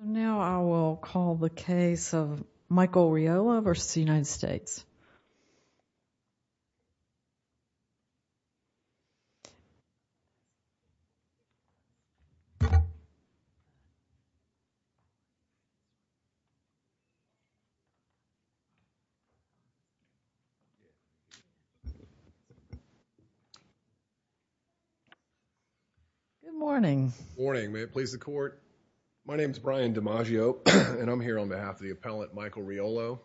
Now I will call the case of Michael Riolo v. United States. Good morning, morning, may it please the court. My name is Brian DiMaggio, and I'm here on behalf of the appellant Michael Riolo.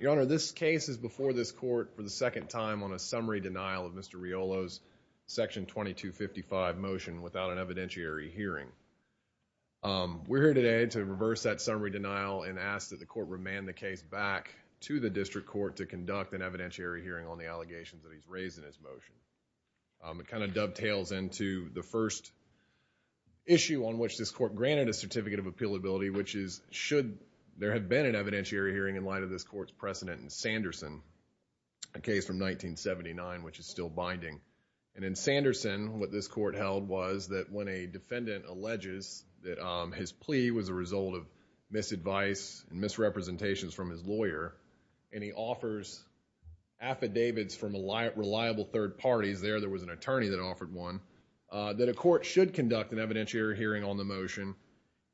Your Honor, this case is before this court for the second time on a summary denial of Mr. Riolo's Section 2255 motion without an evidentiary hearing. We're here today to reverse that summary denial and ask that the court remand the case back to the district court to conduct an evidentiary hearing on the allegations that he's raised in his motion. It kind of dovetails into the first issue on which this court granted a certificate of appealability, which is, should there have been an evidentiary hearing in light of this court's precedent in Sanderson, a case from 1979, which is still binding. And in Sanderson, what this court held was that when a defendant alleges that his plea was a result of misadvice and misrepresentations from his lawyer, and he offers affidavits from reliable third parties, there, there was an attorney that offered one, that a court should conduct an evidentiary hearing on the motion,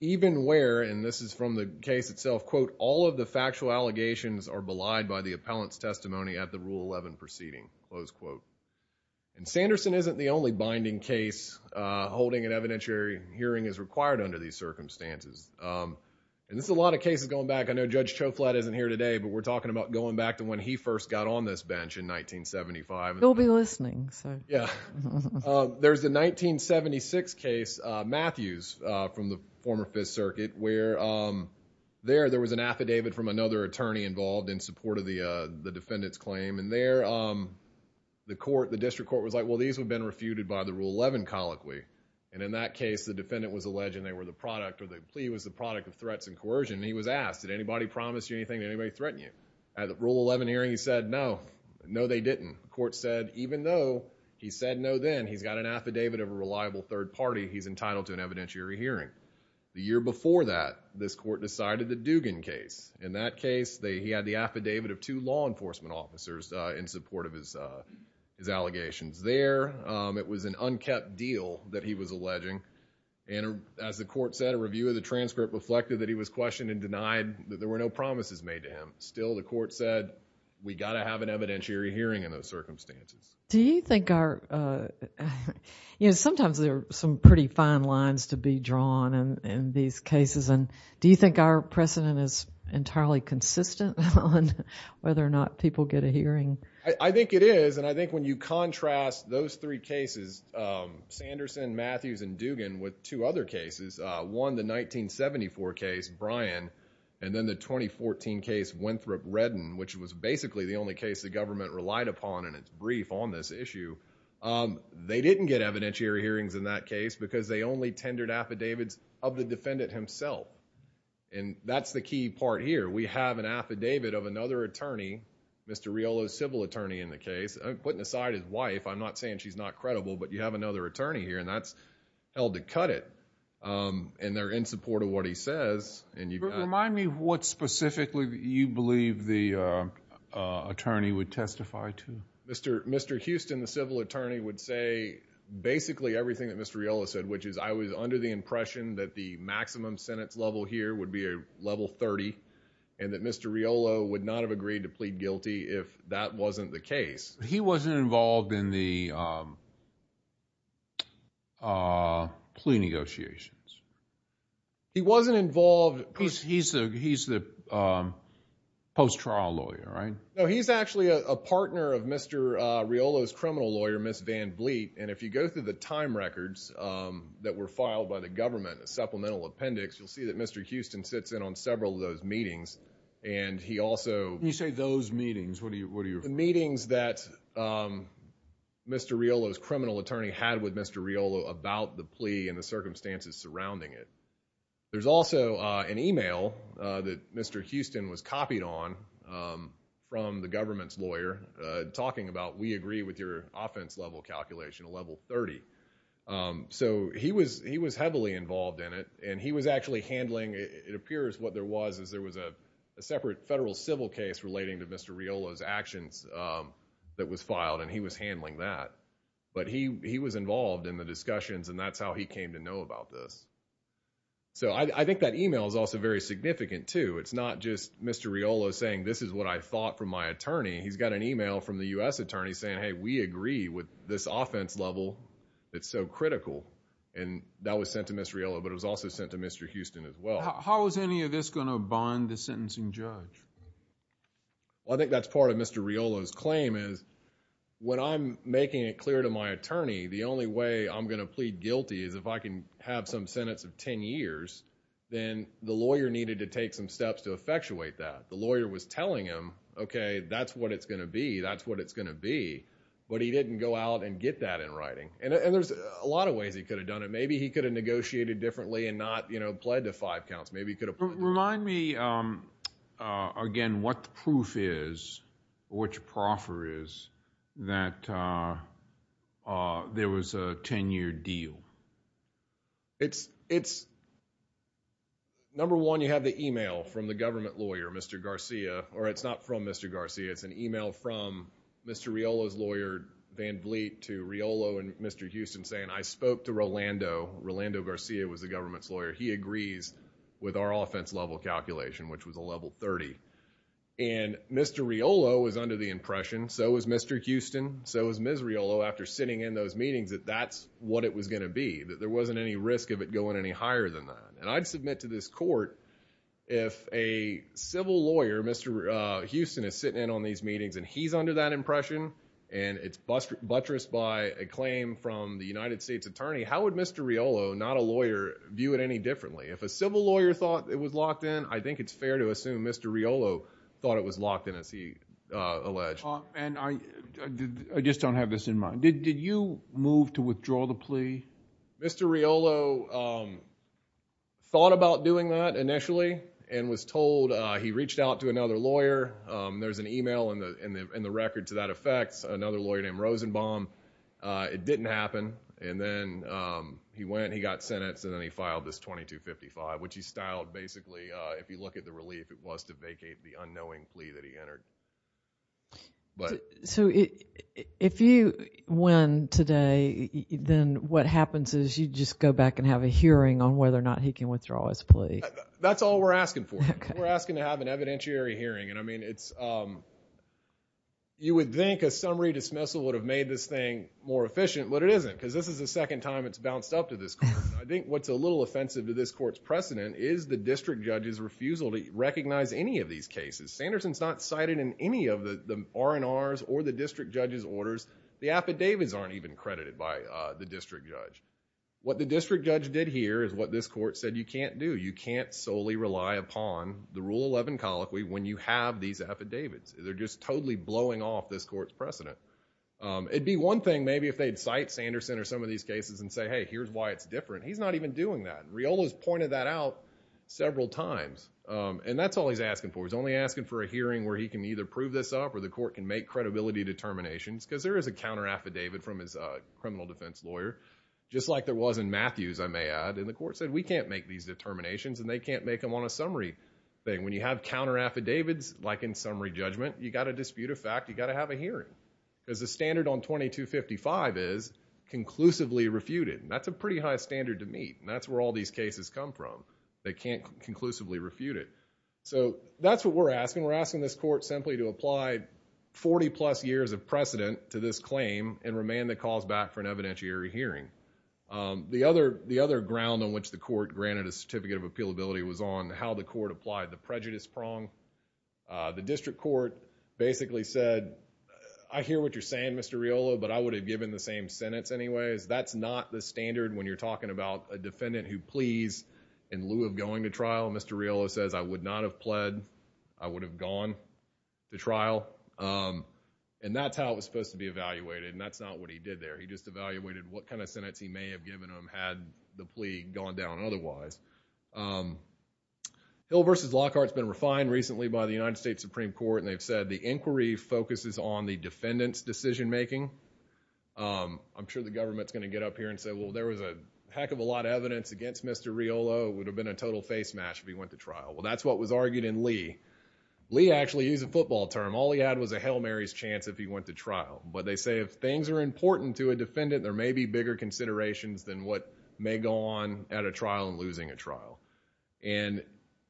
even where, and this is from the case itself, quote, all of the factual allegations are belied by the appellant's testimony at the Rule 11 proceeding, close quote. And Sanderson isn't the only binding case holding an evidentiary hearing is required under these circumstances. And this is a lot of cases going back. I know Judge Choflat isn't here today, but we're talking about going back to when he first got on this bench in 1975. He'll be listening, so. Yeah. There's the 1976 case, Matthews, from the former Fifth Circuit, where there, there was an affidavit from another attorney involved in support of the defendant's claim. And there, the court, the district court was like, well, these have been refuted by the Rule 11 colloquy. And in that case, the defendant was alleging they were the product, or the plea was the product of threats and coercion, and he was asked, did anybody promise you anything? Did anybody threaten you? At the Rule 11 hearing, he said, no. No, they didn't. The court said, even though he said no then, he's got an affidavit of a reliable third party he's entitled to an evidentiary hearing. The year before that, this court decided the Dugan case. In that case, they, he had the affidavit of two law enforcement officers in support of his, his allegations there. It was an unkept deal that he was alleging, and as the court said, a review of the transcript reflected that he was questioned and denied, that there were no promises made to him. Still, the court said, we've got to have an evidentiary hearing in those circumstances. Do you think our, you know, sometimes there are some pretty fine lines to be drawn in these cases, and do you think our precedent is entirely consistent on whether or not people get a hearing? I, I think it is, and I think when you contrast those three cases, Sanderson, Matthews, and was basically the only case the government relied upon in its brief on this issue. They didn't get evidentiary hearings in that case because they only tendered affidavits of the defendant himself, and that's the key part here. We have an affidavit of another attorney, Mr. Riolo's civil attorney in the case, putting aside his wife, I'm not saying she's not credible, but you have another attorney here, and that's held to cut it, and they're in support of what he says, and you've got... Remind me what specifically you believe the attorney would testify to. Mr. Houston, the civil attorney, would say basically everything that Mr. Riolo said, which is, I was under the impression that the maximum Senate's level here would be a level 30, and that Mr. Riolo would not have agreed to plead guilty if that wasn't the case. He wasn't involved in the plea negotiations. He wasn't involved... Because he's the post-trial lawyer, right? No, he's actually a partner of Mr. Riolo's criminal lawyer, Ms. Van Bleet, and if you go through the time records that were filed by the government, the supplemental appendix, you'll see that Mr. Houston sits in on several of those meetings, and he also... When you say those meetings, what do you... The meetings that Mr. Riolo's criminal attorney had with Mr. Riolo about the plea and the circumstances surrounding it. There's also an email that Mr. Houston was copied on from the government's lawyer talking about we agree with your offense level calculation, a level 30. So he was heavily involved in it, and he was actually handling... It appears what there was is there was a separate federal civil case relating to Mr. Riolo's actions that was filed, and he was handling that. But he was involved in the discussions, and that's how he came to know about this. So I think that email is also very significant too. It's not just Mr. Riolo saying, this is what I thought from my attorney. He's got an email from the U.S. attorney saying, hey, we agree with this offense level that's so critical, and that was sent to Mr. Riolo, but it was also sent to Mr. Houston as well. How is any of this going to bond the sentencing judge? I think that's part of Mr. Riolo's claim is when I'm making it clear to my attorney, the only way I'm going to plead guilty is if I can have some sentence of ten years, then the lawyer needed to take some steps to effectuate that. The lawyer was telling him, okay, that's what it's going to be, that's what it's going to be, but he didn't go out and get that in writing. There's a lot of ways he could have done it. Maybe he could have negotiated differently and not pled to five counts. Maybe he could have... Remind me again what the proof is, or what your proffer is, that there was a ten-year deal. Number one, you have the email from the government lawyer, Mr. Garcia, or it's not from Mr. Garcia, it's an email from Mr. Riolo's lawyer, Van Vliet, to Riolo and Mr. Houston saying, I spoke to Rolando, Rolando Garcia was the government's lawyer. He agrees with our offense level calculation, which was a level 30. Mr. Riolo was under the impression, so was Mr. Houston, so was Ms. Riolo, after sitting in those meetings, that that's what it was going to be, that there wasn't any risk of it going any higher than that. I'd submit to this court, if a civil lawyer, Mr. Houston, is sitting in on these meetings and he's under that impression, and it's buttressed by a claim from the United States Attorney, how would Mr. Riolo, not a lawyer, view it any differently? If a civil lawyer thought it was locked in, I think it's fair to assume Mr. Riolo thought it was locked in, as he alleged. I just don't have this in mind. Did you move to withdraw the plea? Mr. Riolo thought about doing that initially and was told, he reached out to another lawyer, there's an email in the record to that effect, another lawyer named Rosenbaum, it didn't happen. Then he went, he got sentenced, and then he filed this 2255, which he styled basically, if you look at the relief, it was to vacate the unknowing plea that he entered. If you win today, then what happens is you just go back and have a hearing on whether or not he can withdraw his plea. That's all we're asking for. We're asking to have an evidentiary hearing. You would think a summary dismissal would have made this thing more efficient, but it isn't because this is the second time it's bounced up to this court. I think what's a little offensive to this court's precedent is the district judge's refusal to recognize any of these cases. Sanderson's not cited in any of the R&R's or the district judge's orders. The affidavits aren't even credited by the district judge. What the district judge did here is what this court said you can't do. You can't solely rely upon the Rule 11 colloquy when you have these affidavits. They're just totally blowing off this court's precedent. It'd be one thing maybe if they'd cite Sanderson or some of these cases and say, hey, here's why it's different. He's not even doing that. Riolo's pointed that out several times. That's all he's asking for. He's only asking for a hearing where he can either prove this up or the court can make credibility determinations because there is a counter-affidavit from his criminal defense lawyer, just like there was in Matthew's, I may add. The court said we can't make these determinations and they can't make them on a summary thing. When you have counter-affidavits, like in summary judgment, you've got to have a hearing because the standard on 2255 is conclusively refuted. That's a pretty high standard to meet. That's where all these cases come from. They can't conclusively refute it. That's what we're asking. We're asking this court simply to apply 40-plus years of precedent to this claim and remand the cause back for an evidentiary hearing. The other ground on which the court granted a certificate of appealability was on how the court applied the prejudice prong. The district court basically said, I hear what you're saying, Mr. Riolo, but I would have given the same sentence anyways. That's not the standard when you're talking about a defendant who pleads in lieu of going to trial. Mr. Riolo says, I would not have pled. I would have gone to trial. That's how it was supposed to be evaluated. That's not what he did there. He just evaluated what kind of sentence he may have given him had the plea gone down otherwise. Hill v. Lockhart's been refined recently by the United States Supreme Court. They've said the inquiry focuses on the defendant's decision making. I'm sure the government's going to get up here and say, well, there was a heck of a lot of evidence against Mr. Riolo. It would have been a total face mash if he went to trial. That's what was argued in Lee. Lee actually used a football term. All he had was a Hail Mary's chance if he went to trial. They say if things are important to a defendant, there may be bigger considerations than what may go on at a trial and losing a trial. In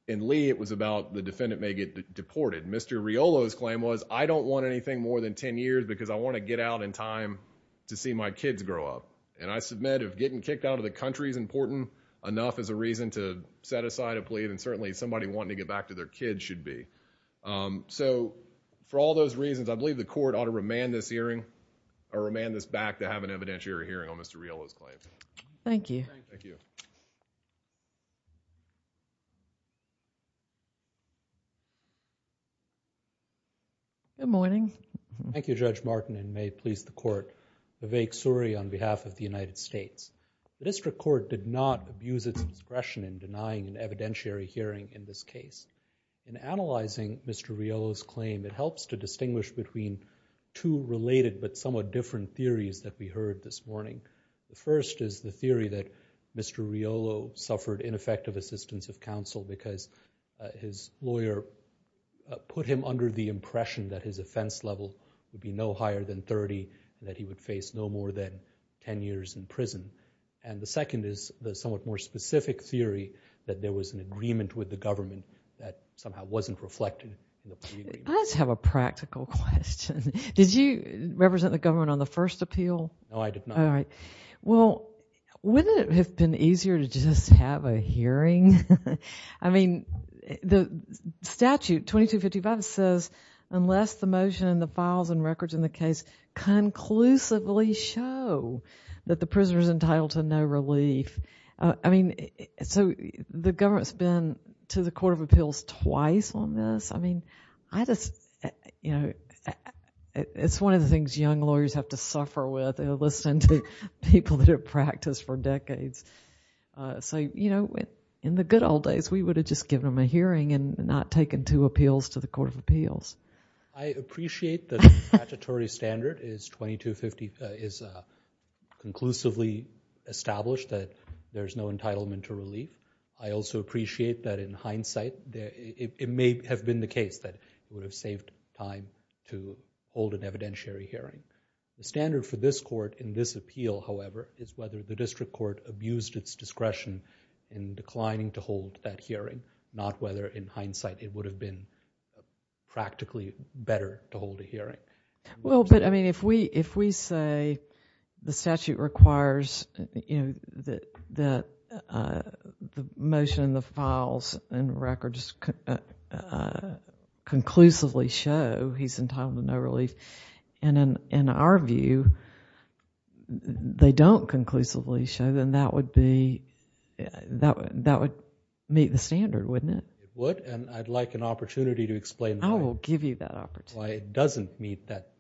Lee, it was about the defendant may get deported. Mr. Riolo's claim was, I don't want anything more than ten years because I want to get out in time to see my kids grow up. I submit if getting kicked out of the country is important enough as a reason to set aside a plea, then certainly somebody wanting to get back to their kids should be. For all those reasons, I believe the court ought to remand this hearing or remand this back to have an evidentiary hearing on Mr. Riolo's claim. Thank you. Good morning. Thank you, Judge Martin, and may it please the court, Vivek Suri on behalf of the United States. The district court did not abuse its discretion in denying an evidentiary hearing in this case. In analyzing Mr. Riolo's claim, it helps to distinguish between two related but somewhat different theories that we heard this morning. The first is the theory that Mr. Riolo suffered ineffective assistance of counsel because his lawyer put him under the impression that his offense level would be no higher than 30, that he would face no more than ten years in prison. And the second is the somewhat more specific theory that there was an agreement with the government that somehow wasn't reflected in the plea agreement. I just have a practical question. Did you represent the government on the first appeal? No, I did not. All right. Well, wouldn't it have been easier to just have a hearing? I mean, the statute 2255 says, unless the motion and the files and records in the case conclusively show that the prisoner is entitled to no relief, I mean, so the government's been to the court of appeals twice on this? I mean, I just, you know, it's one of the things young lawyers have to suffer with. They'll listen to people that have practiced for decades. So, you know, in the good old days, we would have just given them a hearing and not taken two appeals to the court of appeals. I appreciate that the statutory standard is 2255, is conclusively established that there's no entitlement to relief. I also appreciate that in hindsight, it may have been the case that it would have saved time to hold an evidentiary hearing. The standard for this court in this appeal, however, is whether the district court abused its discretion in declining to hold that hearing, not whether in hindsight it would have been practically better to hold a hearing. Well, but I mean, if we say the statute requires, you know, that the motion and the files and in our view, they don't conclusively show, then that would be, that would meet the standard, wouldn't it? It would, and I'd like an opportunity to explain why it doesn't meet that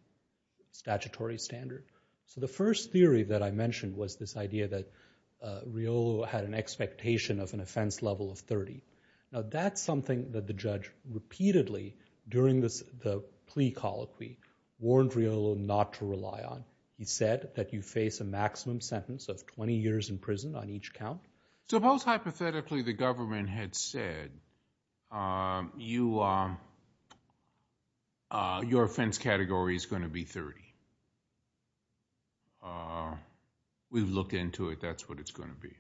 statutory standard. So the first theory that I mentioned was this idea that Riolo had an expectation of an offense level of 30. Now, that's something that the judge repeatedly, during the plea colloquy, warned Riolo not to rely on. He said that you face a maximum sentence of 20 years in prison on each count. So most hypothetically, the government had said, your offense category is going to be 30. We've looked into it, that's what it's going to be.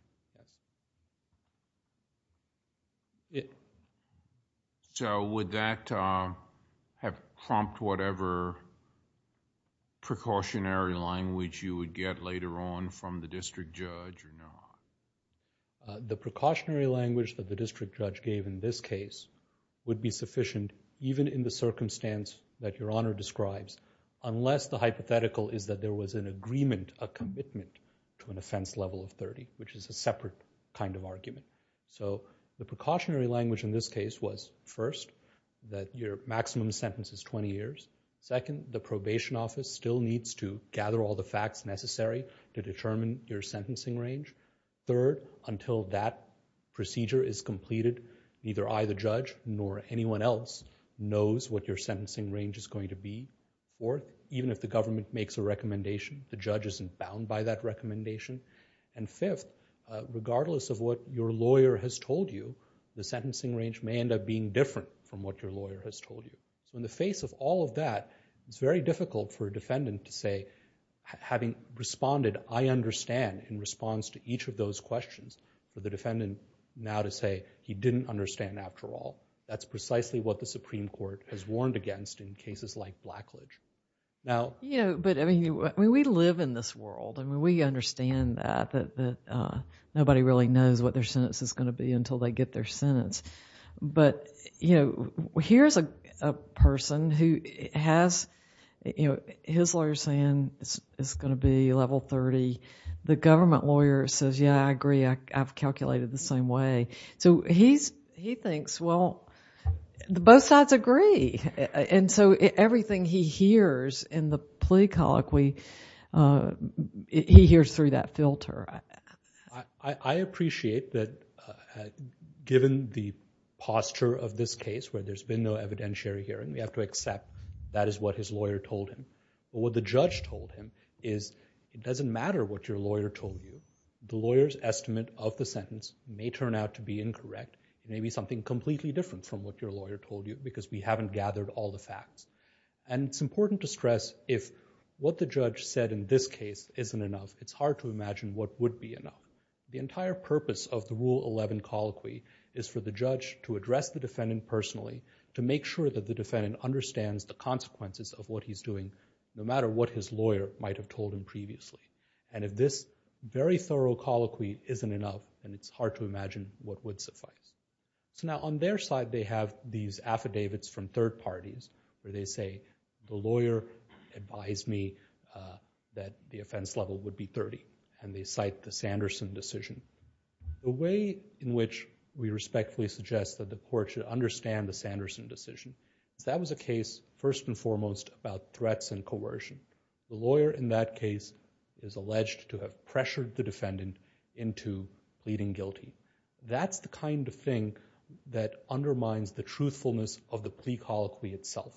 So would that have prompted whatever precautionary language you would get later on from the district judge or not? The precautionary language that the district judge gave in this case would be sufficient even in the circumstance that Your Honor describes, unless the hypothetical is that there was an agreement, a commitment to an offense level of 30, which is a separate kind of argument. So the precautionary language in this case was, first, that your maximum sentence is 20 years. Second, the probation office still needs to gather all the facts necessary to determine your sentencing range. Third, until that procedure is completed, neither I, the judge, nor anyone else knows what your sentencing range is going to be. Or even if the government makes a recommendation, the judge isn't bound by that recommendation. And fifth, regardless of what your lawyer has told you, the sentencing range may end up being different from what your lawyer has told you. So in the face of all of that, it's very difficult for a defendant to say, having responded I understand in response to each of those questions, for the defendant now to say, he didn't understand after all. That's precisely what the Supreme Court has warned against in cases like Blackledge. Now- Yeah, but I mean, we live in this world, and we understand that nobody really knows what their sentence is going to be until they get their sentence. But here's a person who has his lawyer saying it's going to be level 30. The government lawyer says, yeah, I agree, I've calculated the same way. So he thinks, well, both sides agree. And so everything he hears in the plea colloquy, he hears through that filter. I appreciate that given the posture of this case where there's been no evidentiary hearing, we have to accept that is what his lawyer told him. But what the judge told him is, it doesn't matter what your lawyer told you, the lawyer's going to be incorrect. It may be something completely different from what your lawyer told you, because we haven't gathered all the facts. And it's important to stress, if what the judge said in this case isn't enough, it's hard to imagine what would be enough. The entire purpose of the Rule 11 colloquy is for the judge to address the defendant personally, to make sure that the defendant understands the consequences of what he's doing, no matter what his lawyer might have told him previously. And if this very thorough colloquy isn't enough, then it's hard to imagine what would suffice. So now on their side, they have these affidavits from third parties where they say, the lawyer advised me that the offense level would be 30, and they cite the Sanderson decision. The way in which we respectfully suggest that the court should understand the Sanderson decision is that was a case, first and foremost, about threats and coercion. The lawyer in that case is alleged to have pressured the defendant into pleading guilty. That's the kind of thing that undermines the truthfulness of the plea colloquy itself.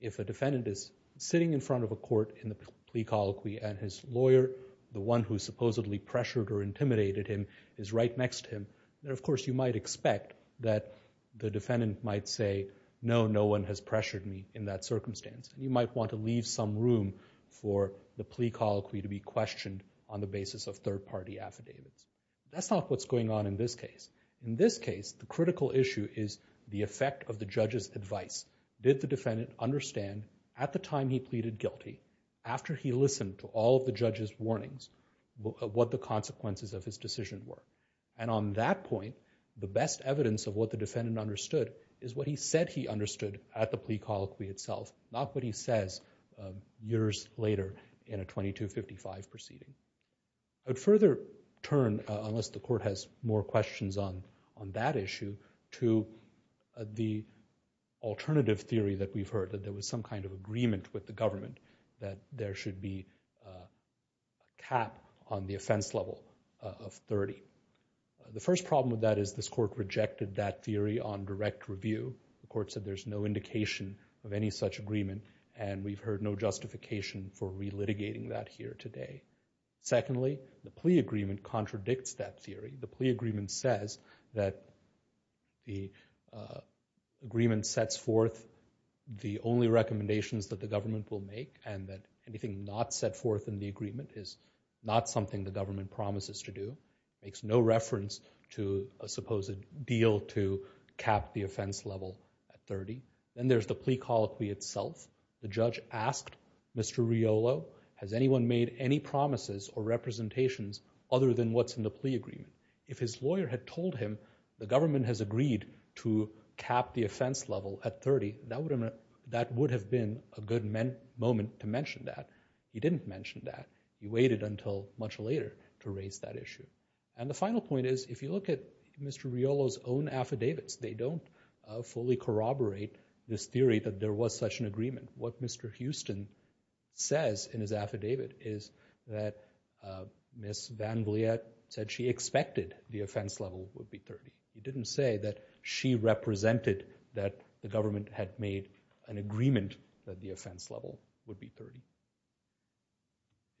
If a defendant is sitting in front of a court in the plea colloquy and his lawyer, the one who supposedly pressured or intimidated him, is right next to him, then of course you might expect that the defendant might say, no, no one has pressured me in that circumstance. You might want to leave some room for the plea colloquy to be questioned on the basis of third party affidavits. That's not what's going on in this case. In this case, the critical issue is the effect of the judge's advice. Did the defendant understand at the time he pleaded guilty, after he listened to all of the judge's warnings, what the consequences of his decision were? And on that point, the best evidence of what the defendant understood is what he said he says years later in a 2255 proceeding. I'd further turn, unless the court has more questions on that issue, to the alternative theory that we've heard, that there was some kind of agreement with the government that there should be a cap on the offense level of 30. The first problem with that is this court rejected that theory on direct review. The court said there's no indication of any such agreement, and we've heard no justification for relitigating that here today. Secondly, the plea agreement contradicts that theory. The plea agreement says that the agreement sets forth the only recommendations that the government will make, and that anything not set forth in the agreement is not something the government promises to do. It makes no reference to a supposed deal to cap the offense level at 30. Then there's the plea colloquy itself. The judge asked Mr. Riolo, has anyone made any promises or representations other than what's in the plea agreement? If his lawyer had told him the government has agreed to cap the offense level at 30, that would have been a good moment to mention that. He didn't mention that. He waited until much later to raise that issue. The final point is, if you look at Mr. Riolo's own affidavits, they don't fully corroborate this theory that there was such an agreement. What Mr. Houston says in his affidavit is that Ms. Van Vliet said she expected the offense level would be 30. He didn't say that she represented that the government had made an agreement that the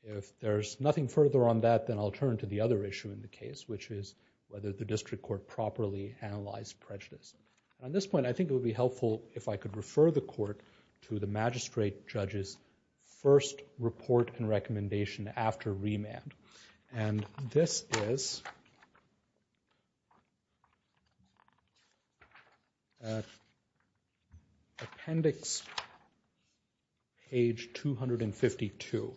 If there's nothing further on that, then I'll turn to the other issue in the case, which is whether the district court properly analyzed prejudice. On this point, I think it would be helpful if I could refer the court to the magistrate judge's first report and recommendation after remand. This is Appendix page 252.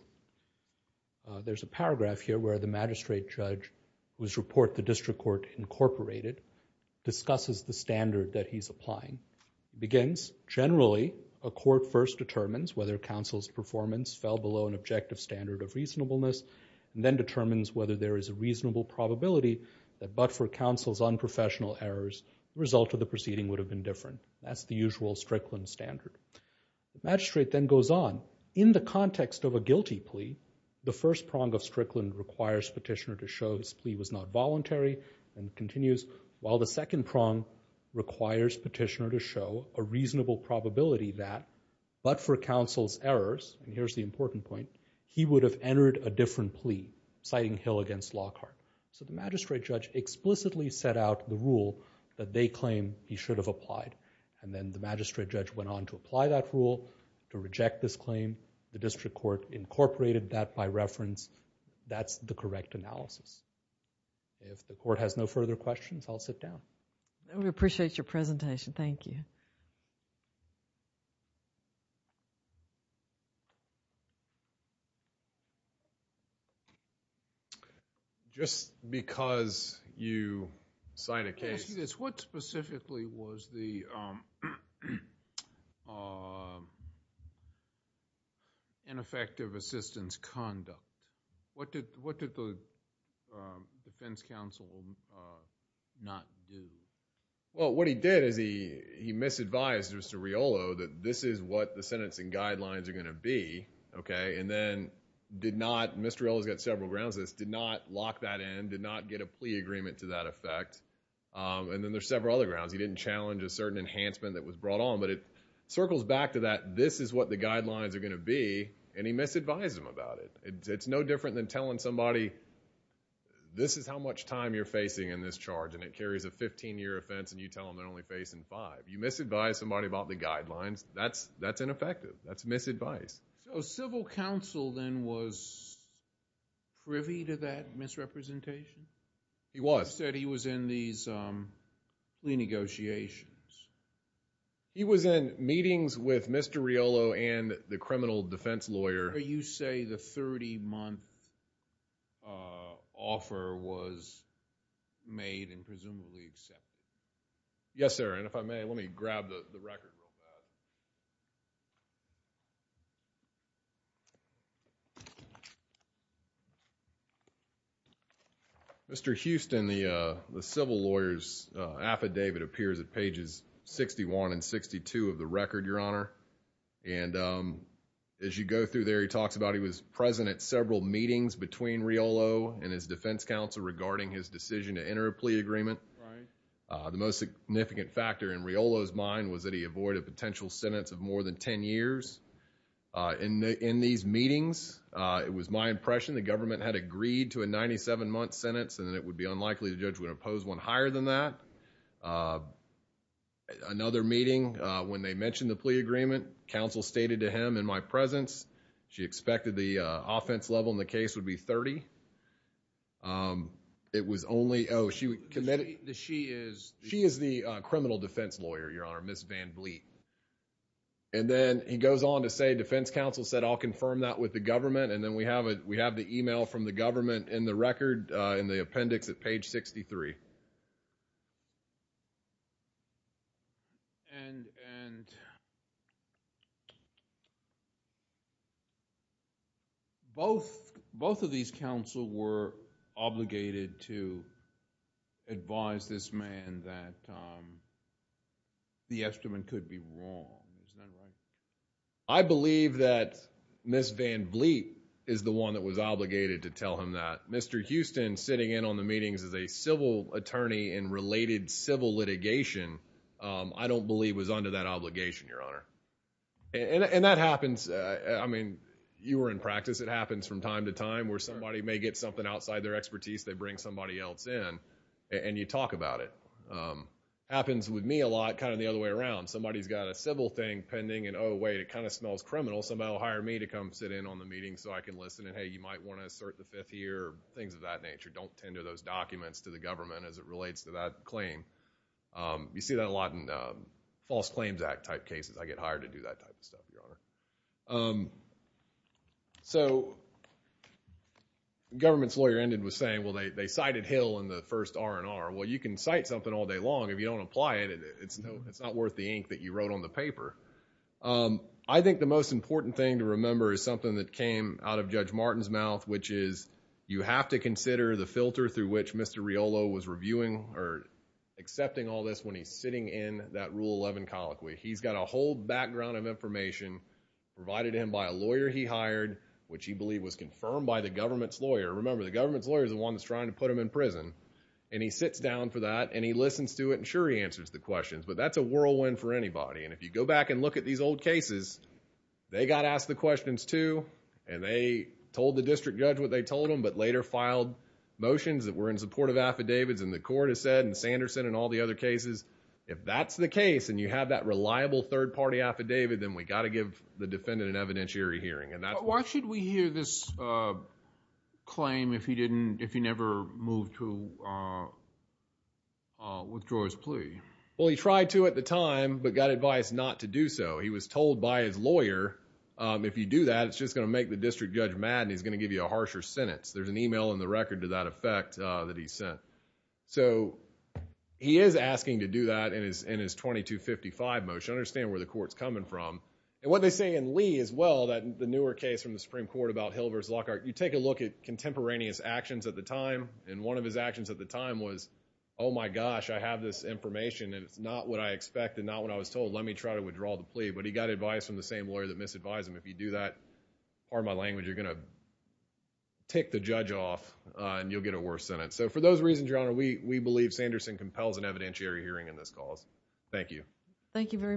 There's a paragraph here where the magistrate judge, whose report the district court incorporated, discusses the standard that he's applying. It begins, generally, a court first determines whether counsel's performance fell below an then determines whether there is a reasonable probability that but for counsel's unprofessional errors, the result of the proceeding would have been different. That's the usual Strickland standard. Magistrate then goes on. In the context of a guilty plea, the first prong of Strickland requires petitioner to show his plea was not voluntary and continues, while the second prong requires petitioner to show a reasonable probability that but for counsel's errors, and here's the important point, he would have entered a different plea, citing Hill against Lockhart. So the magistrate judge explicitly set out the rule that they claim he should have applied, and then the magistrate judge went on to apply that rule, to reject this claim. The district court incorporated that by reference. That's the correct analysis. If the court has no further questions, I'll sit down. We appreciate your presentation. Thank you. Just because you sign a case... Let me ask you this. What specifically was the ineffective assistance conduct? What did the defense counsel not do? Well, what he did is he misadvised Mr. Riolo that this is what the sentencing guidelines are going to be, okay, and then did not, Mr. Riolo's got several grounds to this, did not lock that in, did not get a plea agreement to that effect, and then there's several other grounds. He didn't challenge a certain enhancement that was brought on, but it circles back to that this is what the guidelines are going to be, and he misadvised him about it. It's no different than telling somebody, this is how much time you're facing in this charge, and it carries a 15-year offense, and you tell them they're only facing five. You misadvise somebody about the guidelines, that's ineffective. That's misadvice. So, civil counsel then was privy to that misrepresentation? He was. He said he was in these plea negotiations. He was in meetings with Mr. Riolo and the criminal defense lawyer... Are you saying the 30-month offer was made and presumably accepted? Yes, sir, and if I may, let me grab the record real fast. Mr. Houston, the civil lawyer's affidavit appears at pages 61 and 62 of the record, Your Honor, and as you go through there, he talks about he was present at several meetings between Riolo and his defense counsel regarding his decision to enter a plea agreement. The most significant factor in Riolo's mind was that he avoided a potential sentence of more than ten years. In these meetings, it was my impression the government had agreed to a 97-month sentence, and it would be unlikely the judge would oppose one higher than that. Another meeting, when they mentioned the plea agreement, counsel stated to him in my presence, she expected the offense level in the case would be 30. It was only... Oh, she committed... She is... She is the criminal defense lawyer, Your Honor, Ms. Van Bleet. Then, he goes on to say defense counsel said, I'll confirm that with the government, and then we have the email from the government in the record, in the appendix at page 63. Both of these counsel were obligated to advise this man that the estimate could be wrong. I believe that Ms. Van Bleet is the one that was obligated to tell him that. Mr. Houston, sitting in on the meetings as a civil attorney in related civil litigation, I don't believe was under that obligation, Your Honor. And that happens. I mean, you were in practice. It happens from time to time where somebody may get something outside their expertise. They bring somebody else in, and you talk about it. Happens with me a lot kind of the other way around. Somebody's got a civil thing pending, and oh, wait, it kind of smells criminal. Somebody will hire me to come sit in on the meeting so I can listen, and hey, you might want to assert the fifth year or things of that nature. Don't tender those documents to the government as it relates to that claim. You see that a lot in False Claims Act type cases. I get hired to do that type of stuff, Your Honor. So, the government's lawyer ended with saying, well, they cited Hill in the first R&R. Well, you can cite something all day long if you don't apply it. It's not worth the ink that you wrote on the paper. I think the most important thing to remember is something that came out of Judge Martin's mouth, which is you have to consider the filter through which Mr. Riolo was reviewing or accepting all this when he's sitting in that Rule 11 colloquy. He's got a whole background of information provided to him by a lawyer he hired, which he believed was confirmed by the government's lawyer. Remember, the government's lawyer is the one that's trying to put him in prison, and he sits down for that, and he listens to it, and sure, he answers the questions, but that's a whirlwind for anybody, and if you go back and look at these old cases, they got asked the questions too, and they told the district judge what they told them, but later filed motions that were in support of affidavits, and the court has said, and Sanderson and all the other cases, if that's the case, and you have that reliable third-party affidavit, then we got to give the defendant an evidentiary hearing. Why should we hear this claim if he never moved to withdraw his plea? Well, he tried to at the time, but got advice not to do so. He was told by his lawyer, if you do that, it's just going to make the district judge mad, and he's going to give you a harsher sentence. There's an email in the record to that effect that he sent. So, he is asking to do that in his 2255 motion. Understand where the court's coming from, and what they say in Lee as well, the newer case from the Supreme Court about Hill versus Lockhart, you take a look at contemporaneous actions at the time, and one of his actions at the time was, oh my gosh, I have this information, and it's not what I expected, not what I was told, let me try to withdraw the plea, but he got advice from the same lawyer that misadvised him. If you do that, pardon my language, you're going to tick the judge off, and you'll get a worse sentence. So, for those reasons, Your Honor, we believe Sanderson compels an evidentiary hearing in this cause. Thank you. Thank you very much.